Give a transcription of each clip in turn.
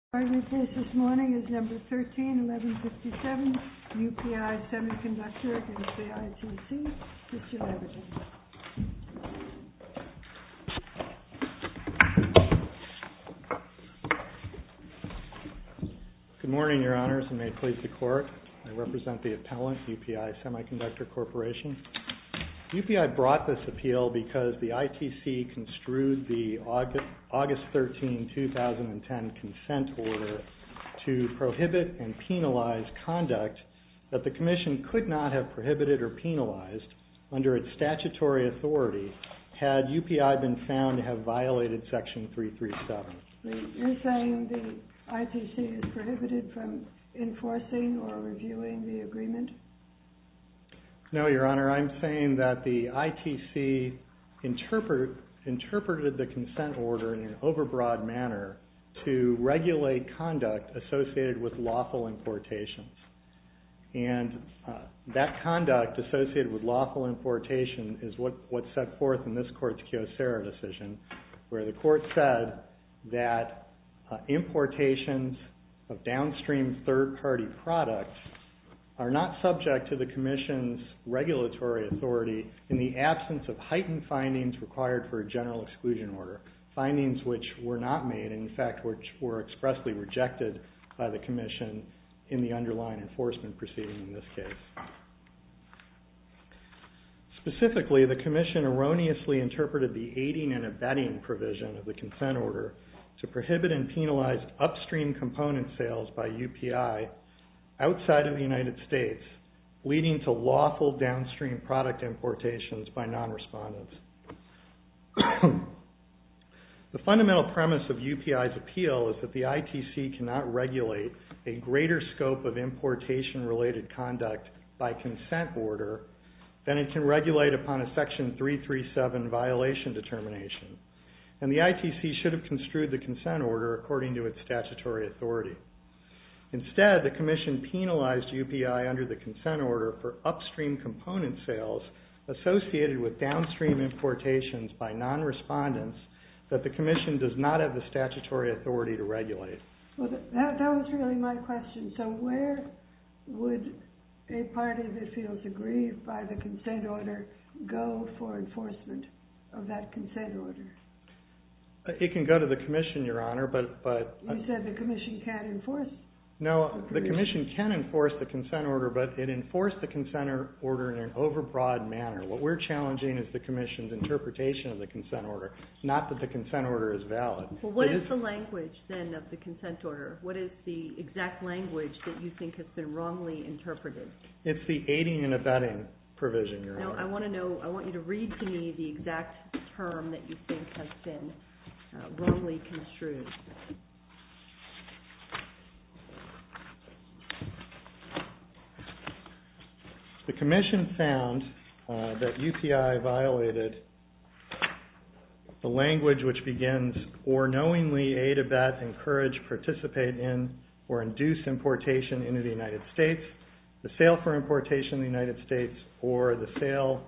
UPI SEMICONDUCTOR CORP v UPI SEMICONDUCTOR CORP v ITC UPI SEMICONDUCTOR CORP v ITC UPI SEMICONDUCTOR CORP v ITC UPI SEMICONDUCTOR CORP v ITC UPI SEMICONDUCTOR CORP v UPI SEMICONDUCTOR CORP v UPI SEMICONDUCTOR CORP v UPI SEMICONDUCTOR CORP v UPI SEMICONDUCTOR CORP v UPI SEMICONDUCTOR CORP v UPI SEMICONDUCTOR Specifically, the Commission erroneously interpreted the aiding and abetting provision of the consent order to prohibit and penalize upstream component sales by UPI outside of the United States, leading to lawful downstream product importations by non-respondents. The fundamental premise of UPI's appeal is that the ITC cannot regulate a greater scope of importation-related conduct by consent order than it can regulate upon a Section 337 violation determination. And the ITC should have construed the consent order according to its statutory authority. Instead, the Commission penalized UPI under the consent order for upstream component sales associated with downstream importations by non-respondents that the Commission does not have the statutory authority to regulate. Well, that was really my question. So where would a party that feels aggrieved by the consent order go for enforcement of that consent order? It can go to the Commission, Your Honor, but... You said the Commission can't enforce... No, the Commission can enforce the consent order, but it enforced the consent order in an overbroad manner. What we're challenging is the Commission's interpretation of the consent order, not that the consent order is valid. Well, what is the language, then, of the consent order? What is the exact language that you think has been wrongly interpreted? It's the aiding and abetting provision, Your Honor. No, I want you to read to me the exact term that you think has been wrongly construed. The Commission found that UPI violated the language which begins, or knowingly aid, abet, encourage, participate in, or induce importation into the United States, the sale for importation in the United States, or the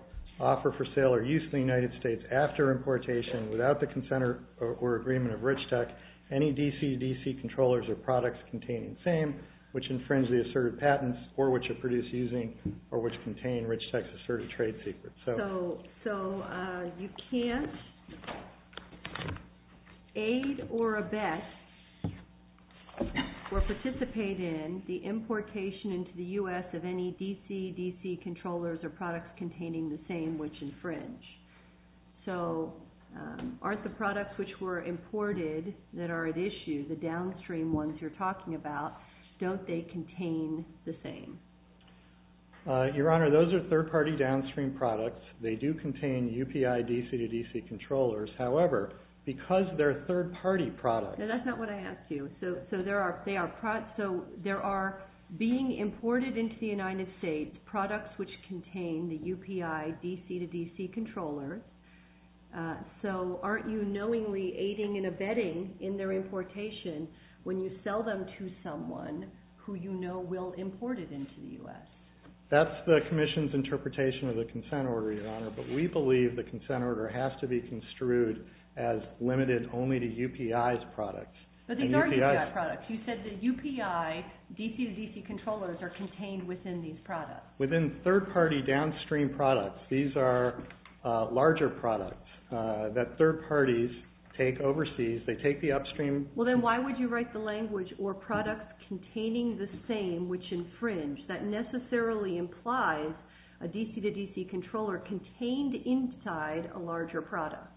offer for sale or use in the United States after importation without the consent or agreement of Rich Tech, any DCDC controllers or products containing the same, which infringe the asserted patents, or which are produced using, or which contain Rich Tech's asserted trade secrets. So you can't aid or abet or participate in the importation into the U.S. of any DCDC controllers or products containing the same, which infringe. So aren't the products which were imported that are at issue, the downstream ones you're talking about, don't they contain the same? Your Honor, those are third-party downstream products. They do contain UPI DCDC controllers. However, because they're third-party products... No, that's not what I asked you. So there are being imported into the United States products which contain the UPI DCDC controllers. So aren't you knowingly aiding and abetting in their importation when you sell them to someone who you know will import it into the U.S.? That's the Commission's interpretation of the consent order, Your Honor, but we believe the consent order has to be construed as limited only to UPI's products. But these are UPI products. You said that UPI DCDC controllers are contained within these products. Within third-party downstream products, these are larger products that third parties take overseas. They take the upstream... Well, then why would you write the language or products containing the same which infringe? That necessarily implies a DCDC controller contained inside a larger product.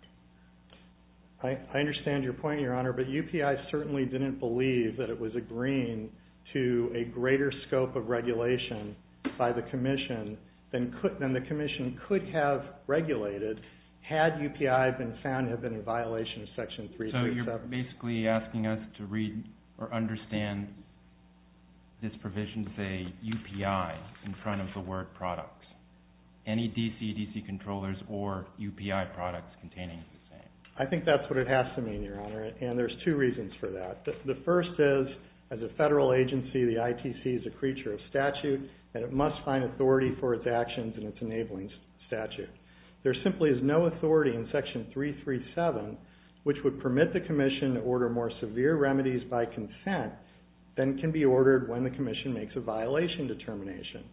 I understand your point, Your Honor, but UPI certainly didn't believe that it was agreeing to a greater scope of regulation by the Commission than the Commission could have regulated had UPI been found to have been in violation of Section 337. So you're basically asking us to read or understand this provision, say, UPI in front of the word products. Any DCDC controllers or UPI products containing the same. I think that's what it has to mean, Your Honor, and there's two reasons for that. The first is, as a federal agency, the ITC is a creature of statute, and it must find authority for its actions in its enabling statute. There simply is no authority in Section 337 which would permit the Commission to order more severe remedies by consent than can be ordered when the Commission makes a violation determination.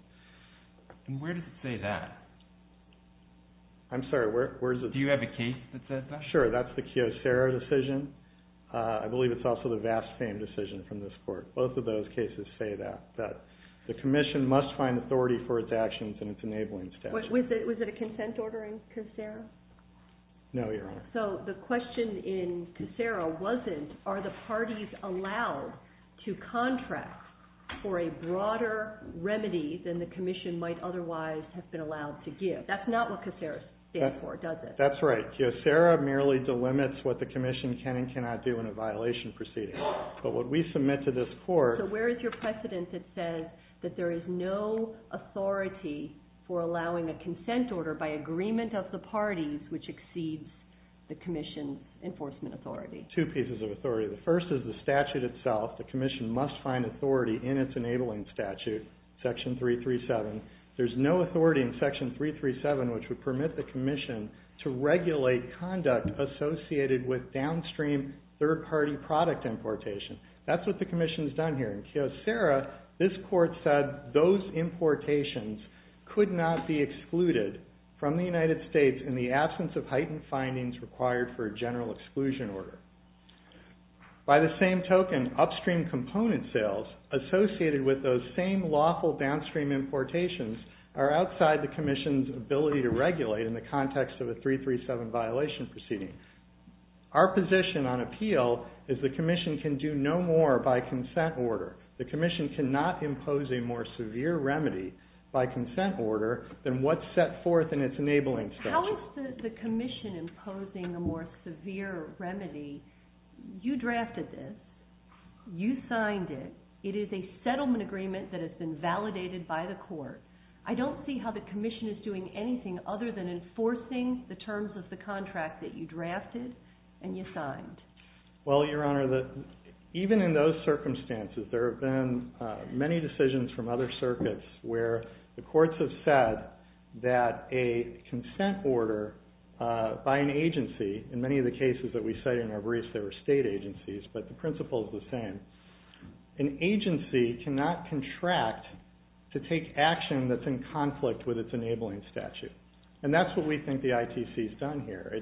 And where does it say that? I'm sorry, where is it? Do you have a case that says that? Sure, that's the Kiyosera decision. I believe it's also the Vast Fame decision from this Court. Both of those cases say that, that the Commission must find authority for its actions in its enabling statute. Was it a consent order in Kiyosera? No, Your Honor. So the question in Kiyosera wasn't, are the parties allowed to contract for a broader remedy than the Commission might otherwise have been allowed to give? That's not what Kiyosera stands for, does it? That's right. Kiyosera merely delimits what the Commission can and cannot do in a violation proceeding. But what we submit to this Court... So where is your precedent that says that there is no authority for allowing a consent order by agreement of the parties which exceeds the Commission's enforcement authority? Two pieces of authority. The first is the statute itself. The Commission must find authority in its enabling statute, Section 337. There's no authority in Section 337 which would permit the Commission to regulate conduct associated with downstream third-party product importation. That's what the Commission's done here. In Kiyosera, this Court said those importations could not be excluded from the United States in the absence of heightened findings required for a general exclusion order. By the same token, upstream component sales associated with those same lawful downstream importations are outside the Commission's ability to regulate in the context of a 337 violation proceeding. Our position on appeal is the Commission can do no more by consent order. The Commission cannot impose a more severe remedy by consent order than what's set forth in its enabling statute. How is the Commission imposing a more severe remedy? You drafted this. You signed it. It is a settlement agreement that has been validated by the Court. I don't see how the Commission is doing anything other than enforcing the terms of the contract that you drafted and you signed. Well, Your Honor, even in those circumstances, there have been many decisions from other circuits where the Courts have said that a consent order by an agency, in many of the cases that we cite in our briefs, they were state agencies, but the principle is the same. An agency cannot contract to take action that's in conflict with its enabling statute. And that's what we think the ITC's done here.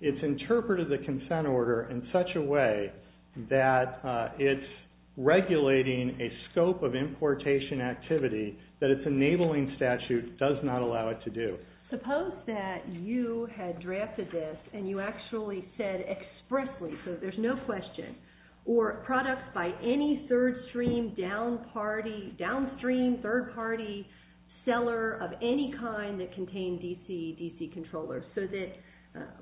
It's interpreted the consent order in such a way that it's regulating a scope of importation activity that its enabling statute does not allow it to do. Suppose that you had drafted this and you actually said expressly, so there's no question, or products by any third-stream, downstream, third-party seller of any kind that contain DC, DC controllers, so that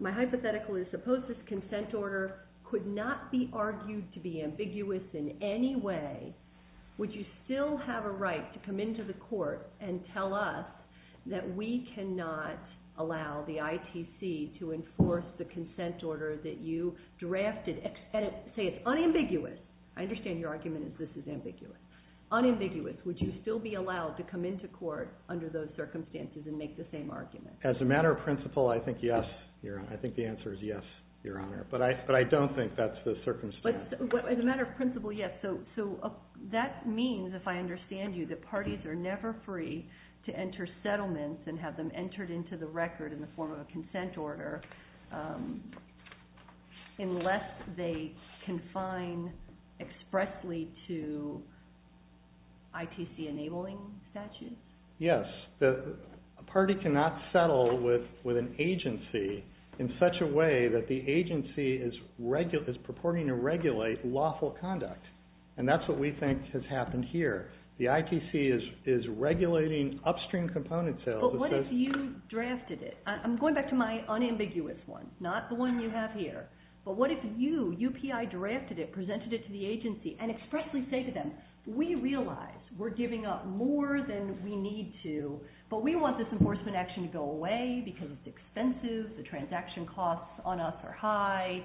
my hypothetical is suppose this consent order could not be argued to be ambiguous in any way, would you still have a right to come into the Court and tell us that we cannot allow the ITC to enforce the consent order that you drafted? Say it's unambiguous. I understand your argument is this is ambiguous. Unambiguous. Would you still be allowed to come into Court under those circumstances and make the same argument? As a matter of principle, I think yes. I think the answer is yes, Your Honor. But I don't think that's the circumstance. As a matter of principle, yes. So that means, if I understand you, that parties are never free to enter settlements and have them entered into the record in the form of a consent order unless they confine expressly to ITC-enabling statutes? Yes. A party cannot settle with an agency in such a way that the agency is purporting to regulate lawful conduct, and that's what we think has happened here. The ITC is regulating upstream component sales. But what if you drafted it? I'm going back to my unambiguous one, not the one you have here. But what if you, UPI, drafted it, presented it to the agency, and expressly say to them, we realize we're giving up more than we need to, but we want this enforcement action to go away because it's expensive, the transaction costs on us are high,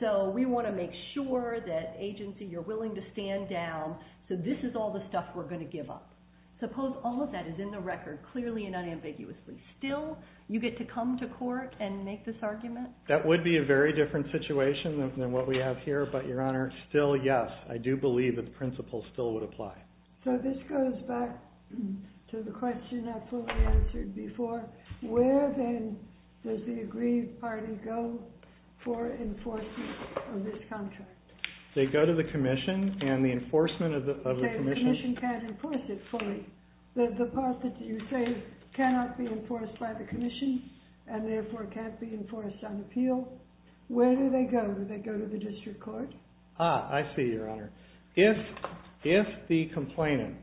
so we want to make sure that, agency, you're willing to stand down, so this is all the stuff we're going to give up. Suppose all of that is in the record, clearly and unambiguously. Still, you get to come to court and make this argument? That would be a very different situation than what we have here, but, Your Honor, still, yes, I do believe that the principle still would apply. So this goes back to the question I fully answered before. Where, then, does the agreed party go for enforcement of this contract? They go to the commission and the enforcement of the commission. The commission can't enforce it fully. The deposit that you say cannot be enforced by the commission and, therefore, can't be enforced on appeal. Where do they go? Do they go to the district court? Ah, I see, Your Honor. If the complainant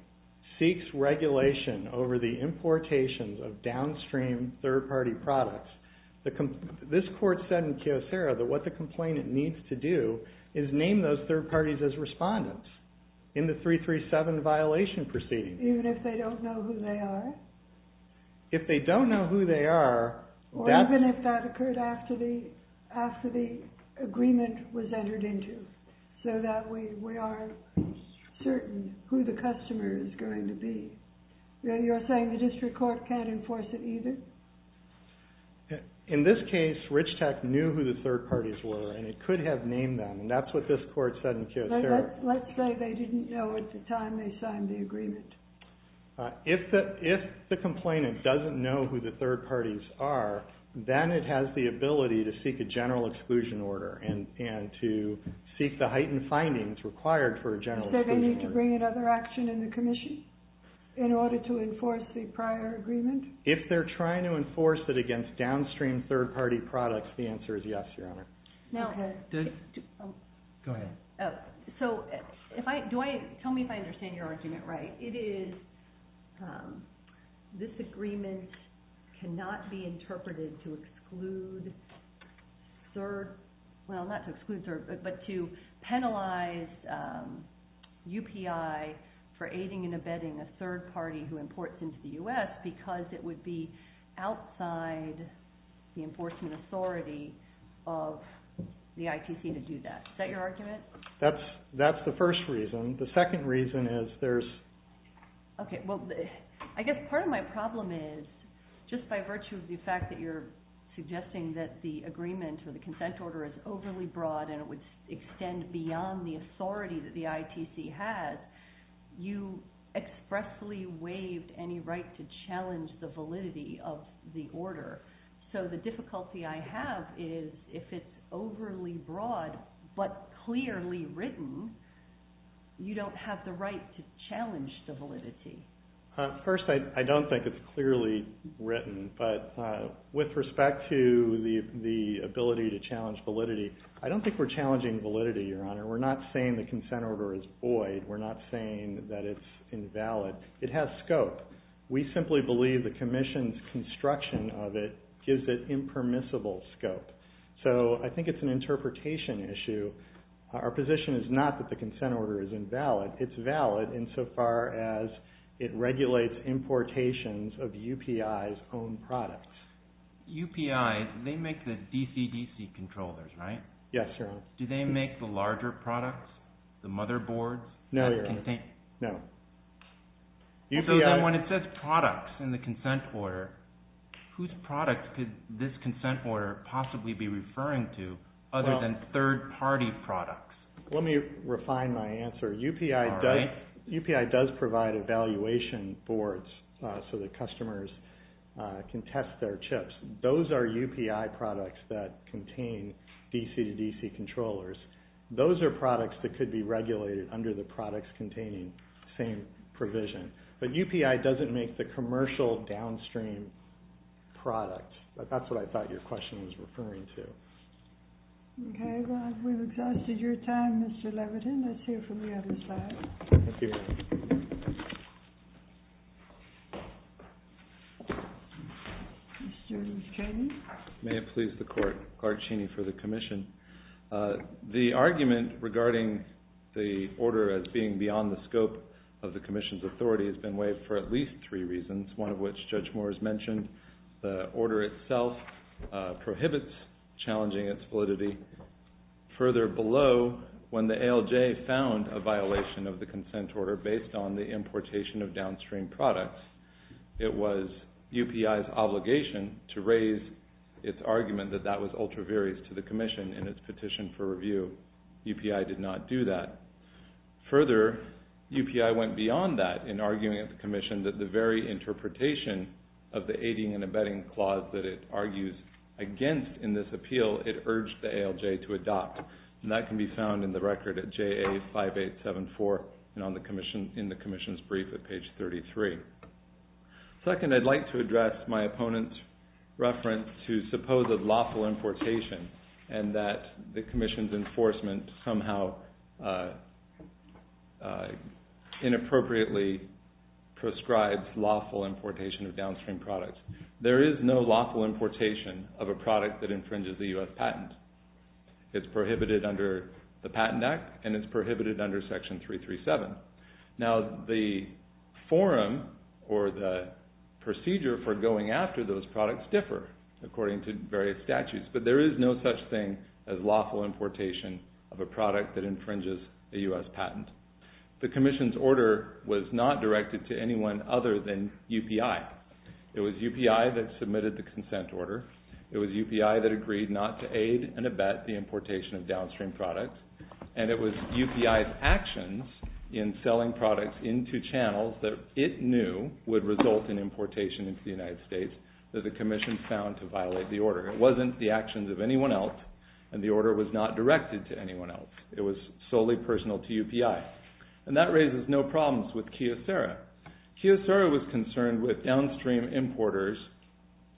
seeks regulation over the importation of downstream third-party products, this court said in Kyocera that what the complainant needs to do is name those third parties as respondents in the 337 violation proceeding. Even if they don't know who they are? If they don't know who they are... Or even if that occurred after the agreement was entered into, so that we are certain who the customer is going to be. You're saying the district court can't enforce it either? In this case, Rich Tech knew who the third parties were, and it could have named them, and that's what this court said in Kyocera. Let's say they didn't know at the time they signed the agreement. If the complainant doesn't know who the third parties are, then it has the ability to seek a general exclusion order and to seek the heightened findings required for a general exclusion order. Does it say they need to bring another action in the commission in order to enforce the prior agreement? If they're trying to enforce it against downstream third-party products, the answer is yes, Your Honor. Now... Go ahead. So, tell me if I understand your argument right. It is this agreement cannot be interpreted to exclude third... UPI for aiding and abetting a third party who imports into the U.S. because it would be outside the enforcement authority of the ITC to do that. Is that your argument? That's the first reason. The second reason is there's... Okay, well, I guess part of my problem is, just by virtue of the fact that you're suggesting that the agreement or the consent order is overly broad and it would extend beyond the authority that the ITC has, you expressly waived any right to challenge the validity of the order. So the difficulty I have is if it's overly broad but clearly written, you don't have the right to challenge the validity. First, I don't think it's clearly written, but with respect to the ability to challenge validity, I don't think we're challenging validity, Your Honor. We're not saying the consent order is void. We're not saying that it's invalid. It has scope. We simply believe the commission's construction of it gives it impermissible scope. So I think it's an interpretation issue. Our position is not that the consent order is invalid. It's valid insofar as it regulates importations of UPI's own products. UPI, they make the DCDC controllers, right? Yes, Your Honor. Do they make the larger products, the motherboards? No, Your Honor. No. So then when it says products in the consent order, whose products could this consent order possibly be referring to other than third-party products? Let me refine my answer. All right. UPI does provide evaluation boards so that customers can test their chips. Those are UPI products that contain DCDC controllers. Those are products that could be regulated under the products containing same provision. But UPI doesn't make the commercial downstream product. That's what I thought your question was referring to. Okay. Well, we've exhausted your time, Mr. Levitin. Let's hear from the other side. Thank you. May it please the Court. Clark Cheney for the Commission. The argument regarding the order as being beyond the scope of the Commission's authority has been waived for at least three reasons, one of which Judge Moore has mentioned. The order itself prohibits challenging its validity. Further below, when the ALJ found a violation of the consent order based on the importation of downstream products, it was UPI's obligation to raise its argument that that was ultra-various to the Commission in its petition for review. UPI did not do that. Further, UPI went beyond that in arguing at the Commission that the very interpretation of the aiding and abetting clause that it argues against in this appeal, it urged the ALJ to adopt. And that can be found in the record at JA 5874 and in the Commission's brief at page 33. Second, I'd like to address my opponent's reference to supposed lawful importation and that the Commission's enforcement somehow inappropriately prescribes lawful importation of downstream products. There is no lawful importation of a product that infringes the U.S. patent. It's prohibited under the Patent Act and it's prohibited under Section 337. Now, the forum or the procedure for going after those products differ according to various statutes. But there is no such thing as lawful importation of a product that infringes a U.S. patent. The Commission's order was not directed to anyone other than UPI. It was UPI that submitted the consent order. It was UPI that agreed not to aid and abet the importation of downstream products. And it was UPI's actions in selling products into channels that it knew would result in importation into the United States that the Commission found to violate the order. It wasn't the actions of anyone else and the order was not directed to anyone else. It was solely personal to UPI. And that raises no problems with Kyocera. Kyocera was concerned with downstream importers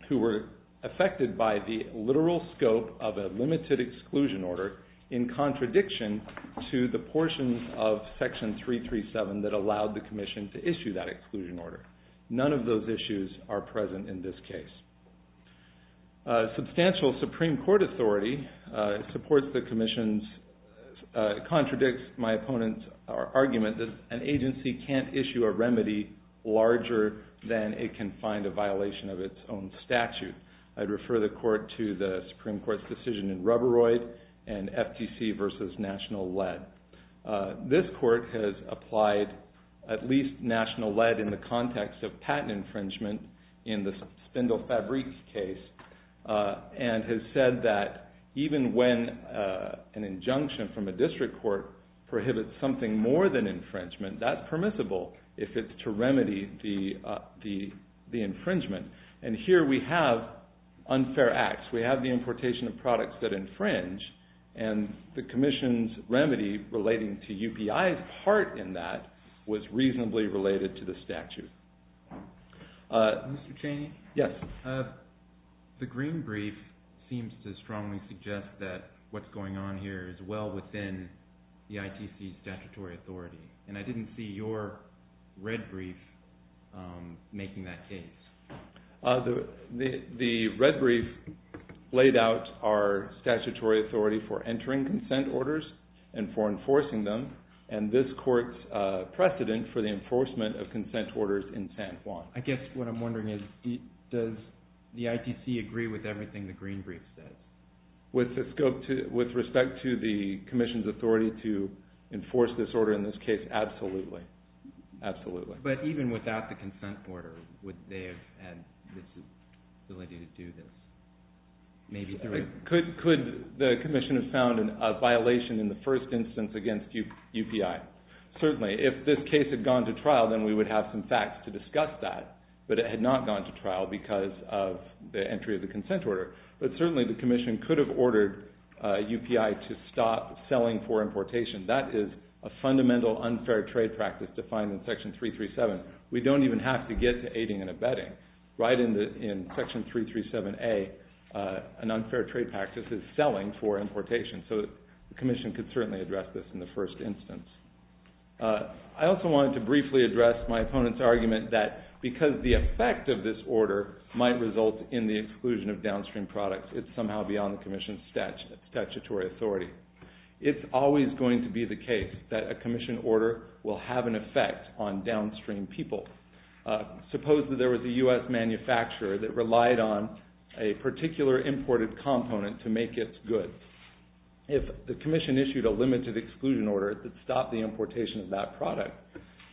who were affected by the literal scope of a limited exclusion order in contradiction to the portions of Section 337 that allowed the Commission to issue that exclusion order. None of those issues are present in this case. Substantial Supreme Court authority supports the Commission's, contradicts my opponent's argument that an agency can't issue a remedy larger than it can find a violation of its own statute. I'd refer the Court to the Supreme Court's decision in Rubberoid and FTC v. National Lead. This Court has applied at least National Lead in the context of patent infringement in the Spindle Fabrics case and has said that even when an injunction from a district court prohibits something more than infringement, that's permissible if it's to remedy the infringement. And here we have unfair acts. We have the importation of products that infringe and the Commission's remedy relating to UPI's part in that was reasonably related to the statute. Mr. Chaney? Yes. The green brief seems to strongly suggest that what's going on here is well within the ITC's statutory authority, and I didn't see your red brief making that case. The red brief laid out our statutory authority for entering consent orders and for enforcing them, and this Court's precedent for the enforcement of consent orders in San Juan. I guess what I'm wondering is does the ITC agree with everything the green brief says? With respect to the Commission's authority to enforce this order in this case, absolutely. Absolutely. But even without the consent order, would they have had the ability to do this? Could the Commission have found a violation in the first instance against UPI? Certainly. If this case had gone to trial, then we would have some facts to discuss that, but it had not gone to trial because of the entry of the consent order. But certainly the Commission could have ordered UPI to stop selling for importation. That is a fundamental unfair trade practice defined in Section 337. We don't even have to get to aiding and abetting. Right in Section 337A, an unfair trade practice is selling for importation, so the Commission could certainly address this in the first instance. I also wanted to briefly address my opponent's argument that because the effect of this order might result in the exclusion of downstream products, it's somehow beyond the Commission's statutory authority. It's always going to be the case that a Commission order will have an effect on downstream people. Suppose that there was a U.S. manufacturer that relied on a particular imported component to make its goods. If the Commission issued a limited exclusion order that stopped the importation of that product,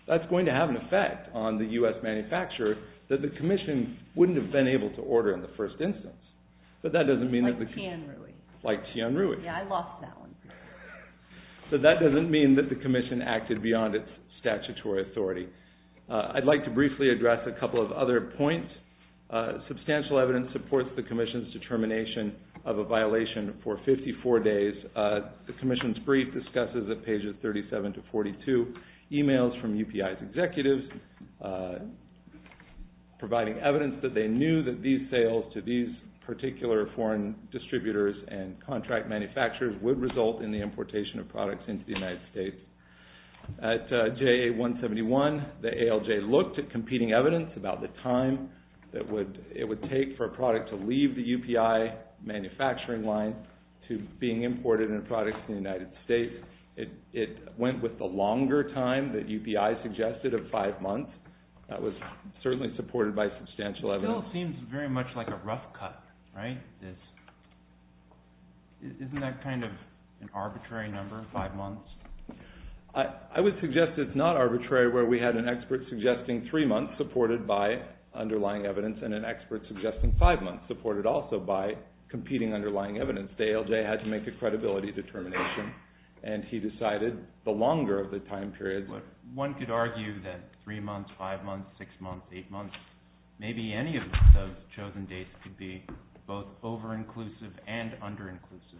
that's going to have an effect on the U.S. manufacturer that the Commission wouldn't have been able to order in the first instance. Like Tian Rui. Like Tian Rui. Yeah, I lost that one. So that doesn't mean that the Commission acted beyond its statutory authority. I'd like to briefly address a couple of other points. Substantial evidence supports the Commission's determination of a violation for 54 days. The Commission's brief discusses at pages 37 to 42, emails from UPI's executives providing evidence that they knew that these sales to these particular foreign distributors and contract manufacturers would result in the importation of products into the United States. At JA-171, the ALJ looked at competing evidence about the time it would take for a product to leave the UPI manufacturing line to being imported into products in the United States. It went with the longer time that UPI suggested of five months. That was certainly supported by substantial evidence. Still seems very much like a rough cut, right? Isn't that kind of an arbitrary number, five months? I would suggest it's not arbitrary where we had an expert suggesting three months supported by underlying evidence and an expert suggesting five months supported also by competing underlying evidence. The ALJ had to make a credibility determination, and he decided the longer of the time period. One could argue that three months, five months, six months, eight months, maybe any of the chosen dates could be both over-inclusive and under-inclusive.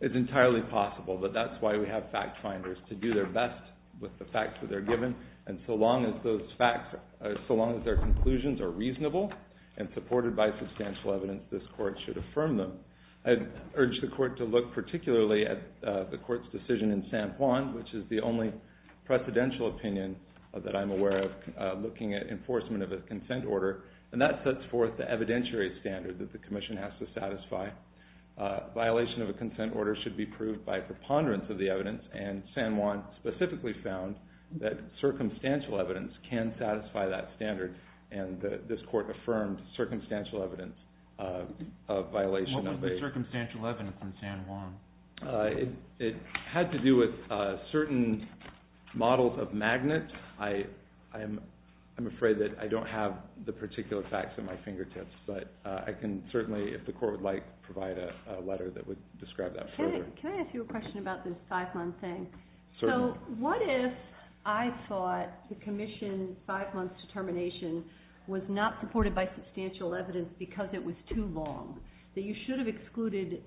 It's entirely possible, but that's why we have fact finders to do their best with the facts that they're given, and so long as those facts, so long as their conclusions are reasonable and supported by substantial evidence, this court should affirm them. I'd urge the court to look particularly at the court's decision in San Juan, which is the only precedential opinion that I'm aware of looking at enforcement of a consent order, and that sets forth the evidentiary standard that the commission has to satisfy. Violation of a consent order should be proved by preponderance of the evidence, and San Juan specifically found that circumstantial evidence can satisfy that standard, and this court affirmed circumstantial evidence of violation. What was the circumstantial evidence in San Juan? It had to do with certain models of magnets. I'm afraid that I don't have the particular facts at my fingertips, but I can certainly, if the court would like, provide a letter that would describe that further. Can I ask you a question about this five-month thing? Certainly. So what if I thought the commission's five-month determination was not supported by substantial evidence because it was too long, that you should have excluded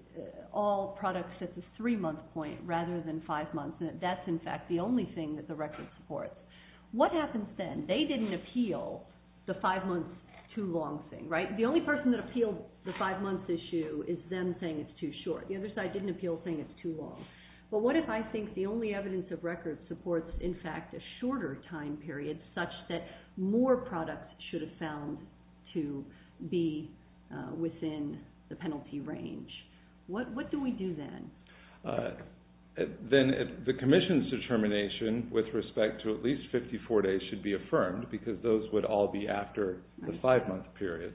all products at the three-month point rather than five months, and that that's, in fact, the only thing that the record supports? What happens then? They didn't appeal the five-month too-long thing, right? The only person that appealed the five-month issue is them saying it's too short. The other side didn't appeal saying it's too long. But what if I think the only evidence of record supports, in fact, a shorter time period such that more products should have found to be within the penalty range? What do we do then? Then the commission's determination with respect to at least 54 days should be affirmed because those would all be after the five-month period.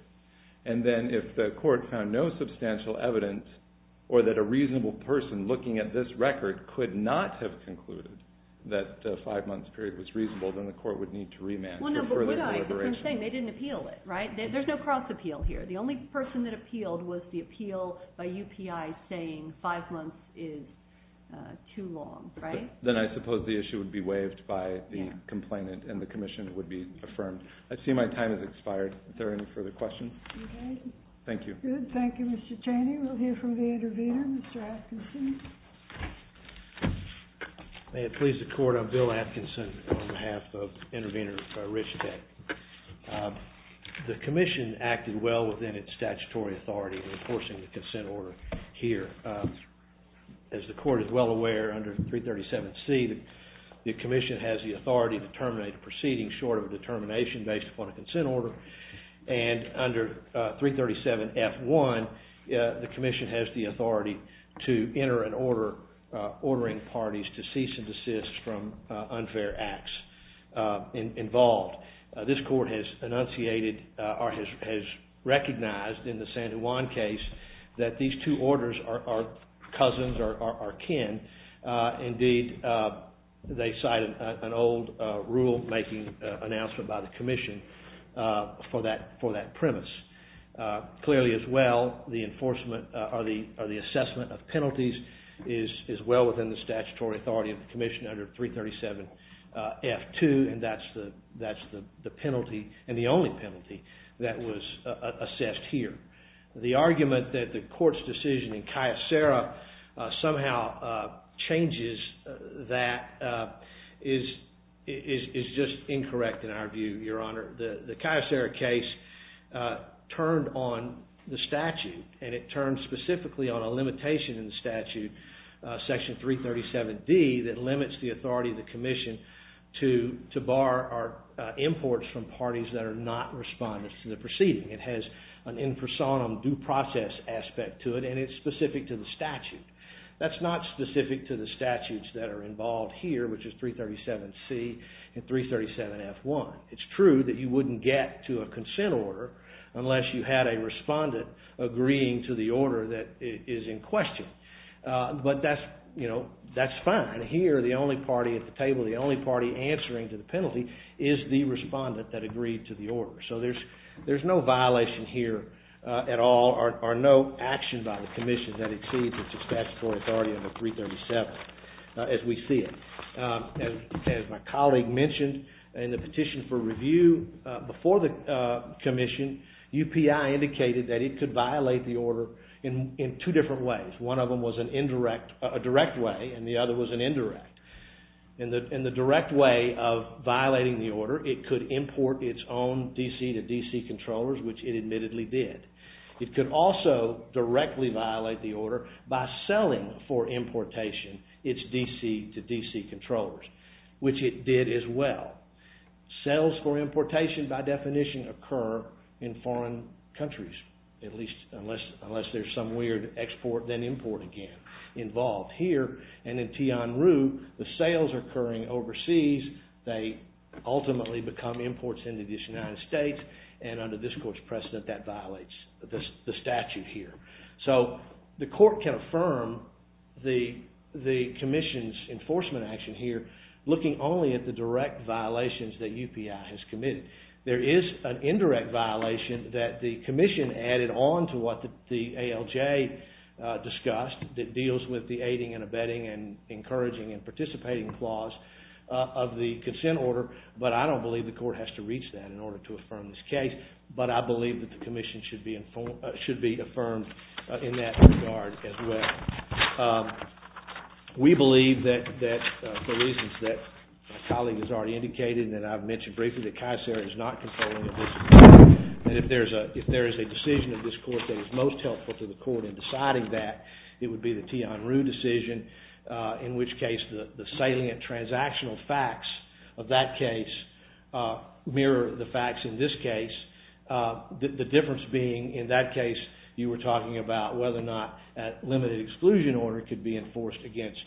And then if the court found no substantial evidence or that a reasonable person looking at this record could not have concluded that the five-month period was reasonable, then the court would need to remand for further deliberation. Well, no, but would I? Because I'm saying they didn't appeal it, right? There's no cross-appeal here. The only person that appealed was the appeal by UPI saying five months is too long, right? Then I suppose the issue would be waived by the complainant and the commission would be affirmed. I see my time has expired. Is there any further questions? Okay. Thank you. Good. Thank you, Mr. Chaney. We'll hear from the intervener, Mr. Atkinson. May it please the Court, I'm Bill Atkinson on behalf of intervener Rich Tech. The commission acted well within its statutory authority in enforcing the consent order here. As the Court is well aware, under 337C, the commission has the authority to terminate a proceeding short of a determination based upon a consent order. And under 337F1, the commission has the authority to enter an order ordering parties to cease and desist from unfair acts involved. This Court has recognized in the San Juan case that these two orders are cousins or are kin. Indeed, they cite an old rule-making announcement by the commission for that premise. Clearly as well, the assessment of penalties is well within the statutory authority of the commission under 337F2, and that's the penalty and the only penalty that was assessed here. The argument that the Court's decision in Cayucera somehow changes that is just incorrect in our view, Your Honor. The Cayucera case turned on the statute, and it turned specifically on a limitation in the statute, section 337D, that limits the authority of the commission to bar imports from parties that are not respondents to the proceeding. It has an in personam due process aspect to it, and it's specific to the statute. That's not specific to the statutes that are involved here, which is 337C and 337F1. It's true that you wouldn't get to a consent order unless you had a respondent agreeing to the order that is in question. But that's fine. Here, the only party at the table, the only party answering to the penalty, is the respondent that agreed to the order. So there's no violation here at all, or no action by the commission that exceeds its statutory authority under 337, as we see it. As my colleague mentioned in the petition for review before the commission, UPI indicated that it could violate the order in two different ways. One of them was a direct way, and the other was an indirect. In the direct way of violating the order, it could import its own DC to DC controllers, which it admittedly did. It could also directly violate the order by selling for importation its DC to DC controllers, which it did as well. Sales for importation, by definition, occur in foreign countries, at least unless there's some weird export-then-import again involved here. And in Tianrou, the sales are occurring overseas. They ultimately become imports into the United States, and under this court's precedent, that violates the statute here. So the court can affirm the commission's enforcement action here looking only at the direct violations that UPI has committed. There is an indirect violation that the commission added on to what the ALJ discussed that deals with the aiding and abetting and encouraging and participating clause of the consent order, but I don't believe the court has to reach that in order to affirm this case. But I believe that the commission should be affirmed in that regard as well. We believe that, for reasons that my colleague has already indicated and that I've mentioned briefly, that CAESER is not controlling this. And if there is a decision of this court that is most helpful to the court in deciding that, it would be the Tianrou decision, in which case the salient transactional facts of that case mirror the facts in this case. The difference being, in that case, you were talking about whether or not a limited exclusion order could be enforced against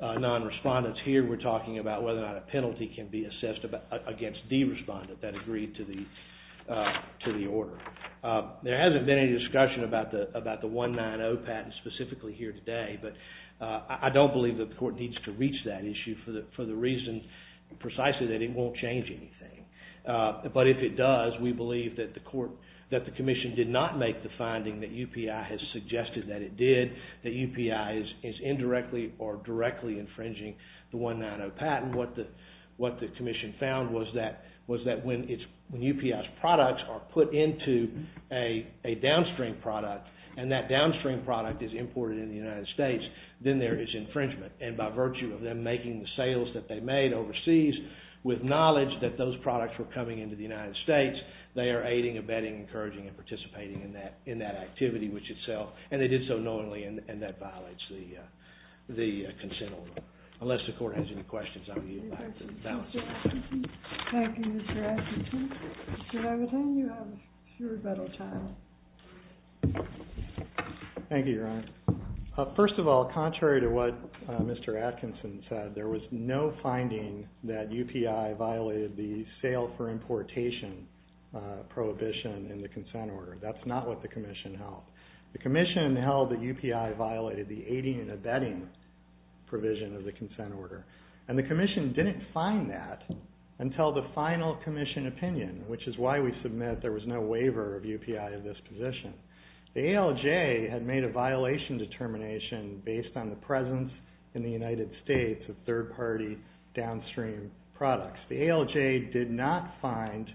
non-respondents. Here we're talking about whether or not a penalty can be assessed against the respondent that agreed to the order. There hasn't been any discussion about the 190 patent specifically here today, but I don't believe the court needs to reach that issue for the reason precisely that it won't change anything. But if it does, we believe that the commission did not make the finding that UPI has suggested that it did, that UPI is indirectly or directly infringing the 190 patent. What the commission found was that when UPI's products are put into a downstream product, and that downstream product is imported into the United States, then there is infringement. And by virtue of them making the sales that they made overseas with knowledge that those products were coming into the United States, they are aiding, abetting, encouraging, and participating in that activity, which itself, and they did so knowingly, and that violates the consent order. Unless the court has any questions, I'm going to yield back. Thank you, Mr. Atkinson. Mr. Levitin, you have your rebuttal time. Thank you, Your Honor. First of all, contrary to what Mr. Atkinson said, there was no finding that UPI violated the sale for importation prohibition in the consent order. That's not what the commission held. The commission held that UPI violated the aiding and abetting provision of the consent order. And the commission didn't find that until the final commission opinion, which is why we submit there was no waiver of UPI in this position. The ALJ had made a violation determination based on the presence in the United States of third-party downstream products. The ALJ did not find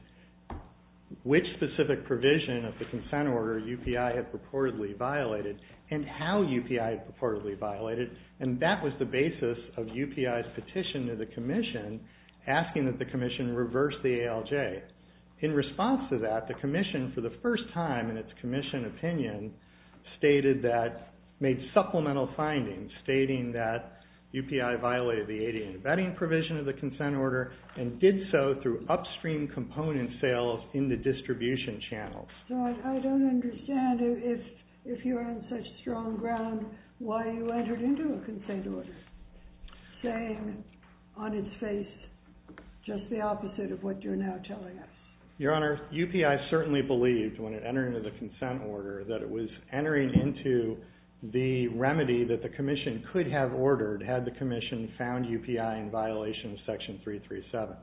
which specific provision of the consent order UPI had purportedly violated and how UPI had purportedly violated, and that was the basis of UPI's petition to the commission asking that the commission reverse the ALJ. In response to that, the commission, for the first time in its commission opinion, stated that, made supplemental findings stating that UPI violated the aiding and abetting provision of the consent order and did so through upstream component sales in the distribution channels. So I don't understand, if you're on such strong ground, why you entered into a consent order, saying on its face just the opposite of what you're now telling us. Your Honor, UPI certainly believed when it entered into the consent order that it was entering into the remedy that the commission could have ordered had the commission found UPI in violation of Section 337.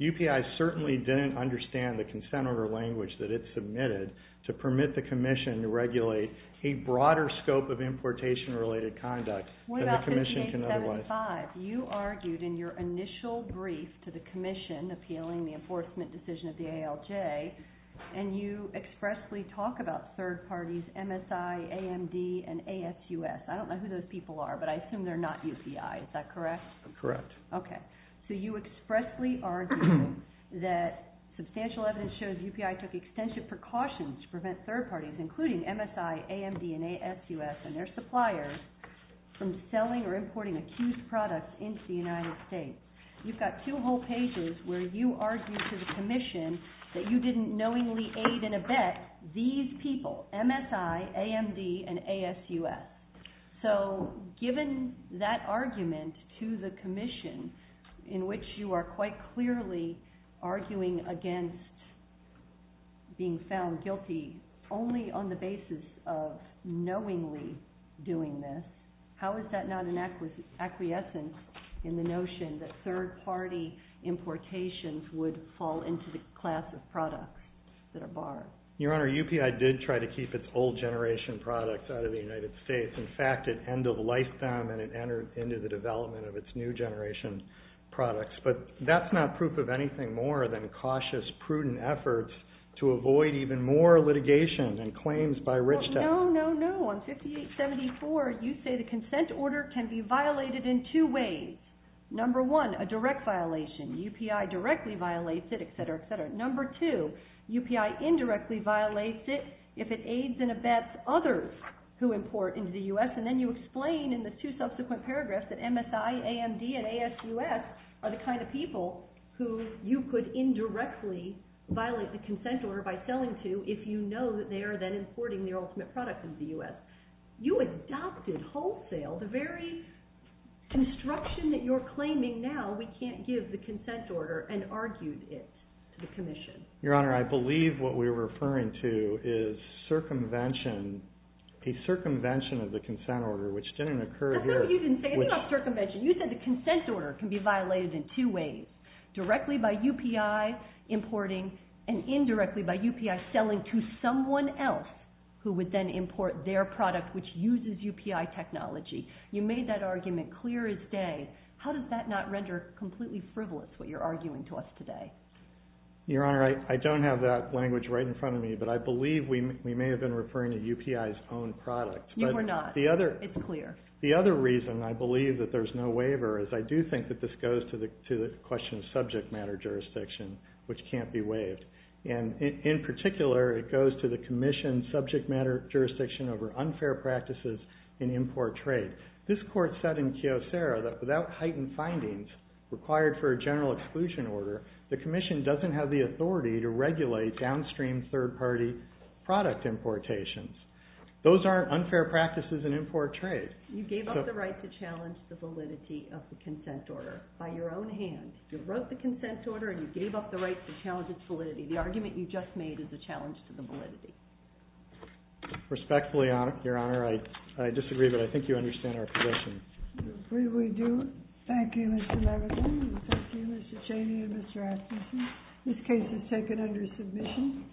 UPI certainly didn't understand the consent order language that it submitted to permit the commission to regulate a broader scope of importation-related conduct than the commission can otherwise. You argued in your initial brief to the commission appealing the enforcement decision of the ALJ, and you expressly talk about third parties, MSI, AMD, and ASUS. I don't know who those people are, but I assume they're not UPI. Is that correct? I'm correct. Okay. So you expressly argue that substantial evidence shows UPI took extensive precautions to prevent third parties, including MSI, AMD, and ASUS and their suppliers from selling or importing accused products into the United States. You've got two whole pages where you argue to the commission that you didn't knowingly aid and abet these people, MSI, AMD, and ASUS. So given that argument to the commission, in which you are quite clearly arguing against being found guilty only on the basis of knowingly doing this, how is that not an acquiescence in the notion that third party importations would fall into the class of products that are borrowed? Your Honor, UPI did try to keep its old generation products out of the United States. In fact, at end of lifetime, and it entered into the development of its new generation products. But that's not proof of anything more than cautious, prudent efforts to avoid even more litigation and claims by Rich Tech. No, no, no. On 5874, you say the consent order can be violated in two ways. Number one, a direct violation. UPI directly violates it, et cetera, et cetera. Number two, UPI indirectly violates it if it aids and abets others who import into the U.S. And then you explain in the two subsequent paragraphs that MSI, AMD, and ASUS are the kind of people who you could indirectly violate the consent order by selling to if you know that they are then importing the ultimate product into the U.S. You adopted wholesale the very construction that you're claiming now we can't give the consent order and argued it to the commission. Your Honor, I believe what we're referring to is circumvention, a circumvention of the consent order, which didn't occur here. That's what you didn't say. It's not circumvention. You said the consent order can be violated in two ways, directly by UPI importing and indirectly by UPI selling to someone else who would then import their product, which uses UPI technology. You made that argument clear as day. How does that not render completely frivolous what you're arguing to us today? Your Honor, I don't have that language right in front of me, but I believe we may have been referring to UPI's own product. You were not. It's clear. The other reason I believe that there's no waiver is I do think that this goes to the question of subject matter jurisdiction, which can't be waived. In particular, it goes to the commission's subject matter jurisdiction over unfair practices in import trade. This court said in Kyocera that without heightened findings required for a general exclusion order, the commission doesn't have the authority to regulate downstream third-party product importations. Those aren't unfair practices in import trade. You gave up the right to challenge the validity of the consent order by your own hands. You wrote the consent order and you gave up the right to challenge its validity. The argument you just made is a challenge to the validity. Respectfully, Your Honor, I disagree, but I think you understand our position. We do. Thank you, Mr. Levitan. Thank you, Mr. Cheney and Mr. Atkinson. This case is taken under submission.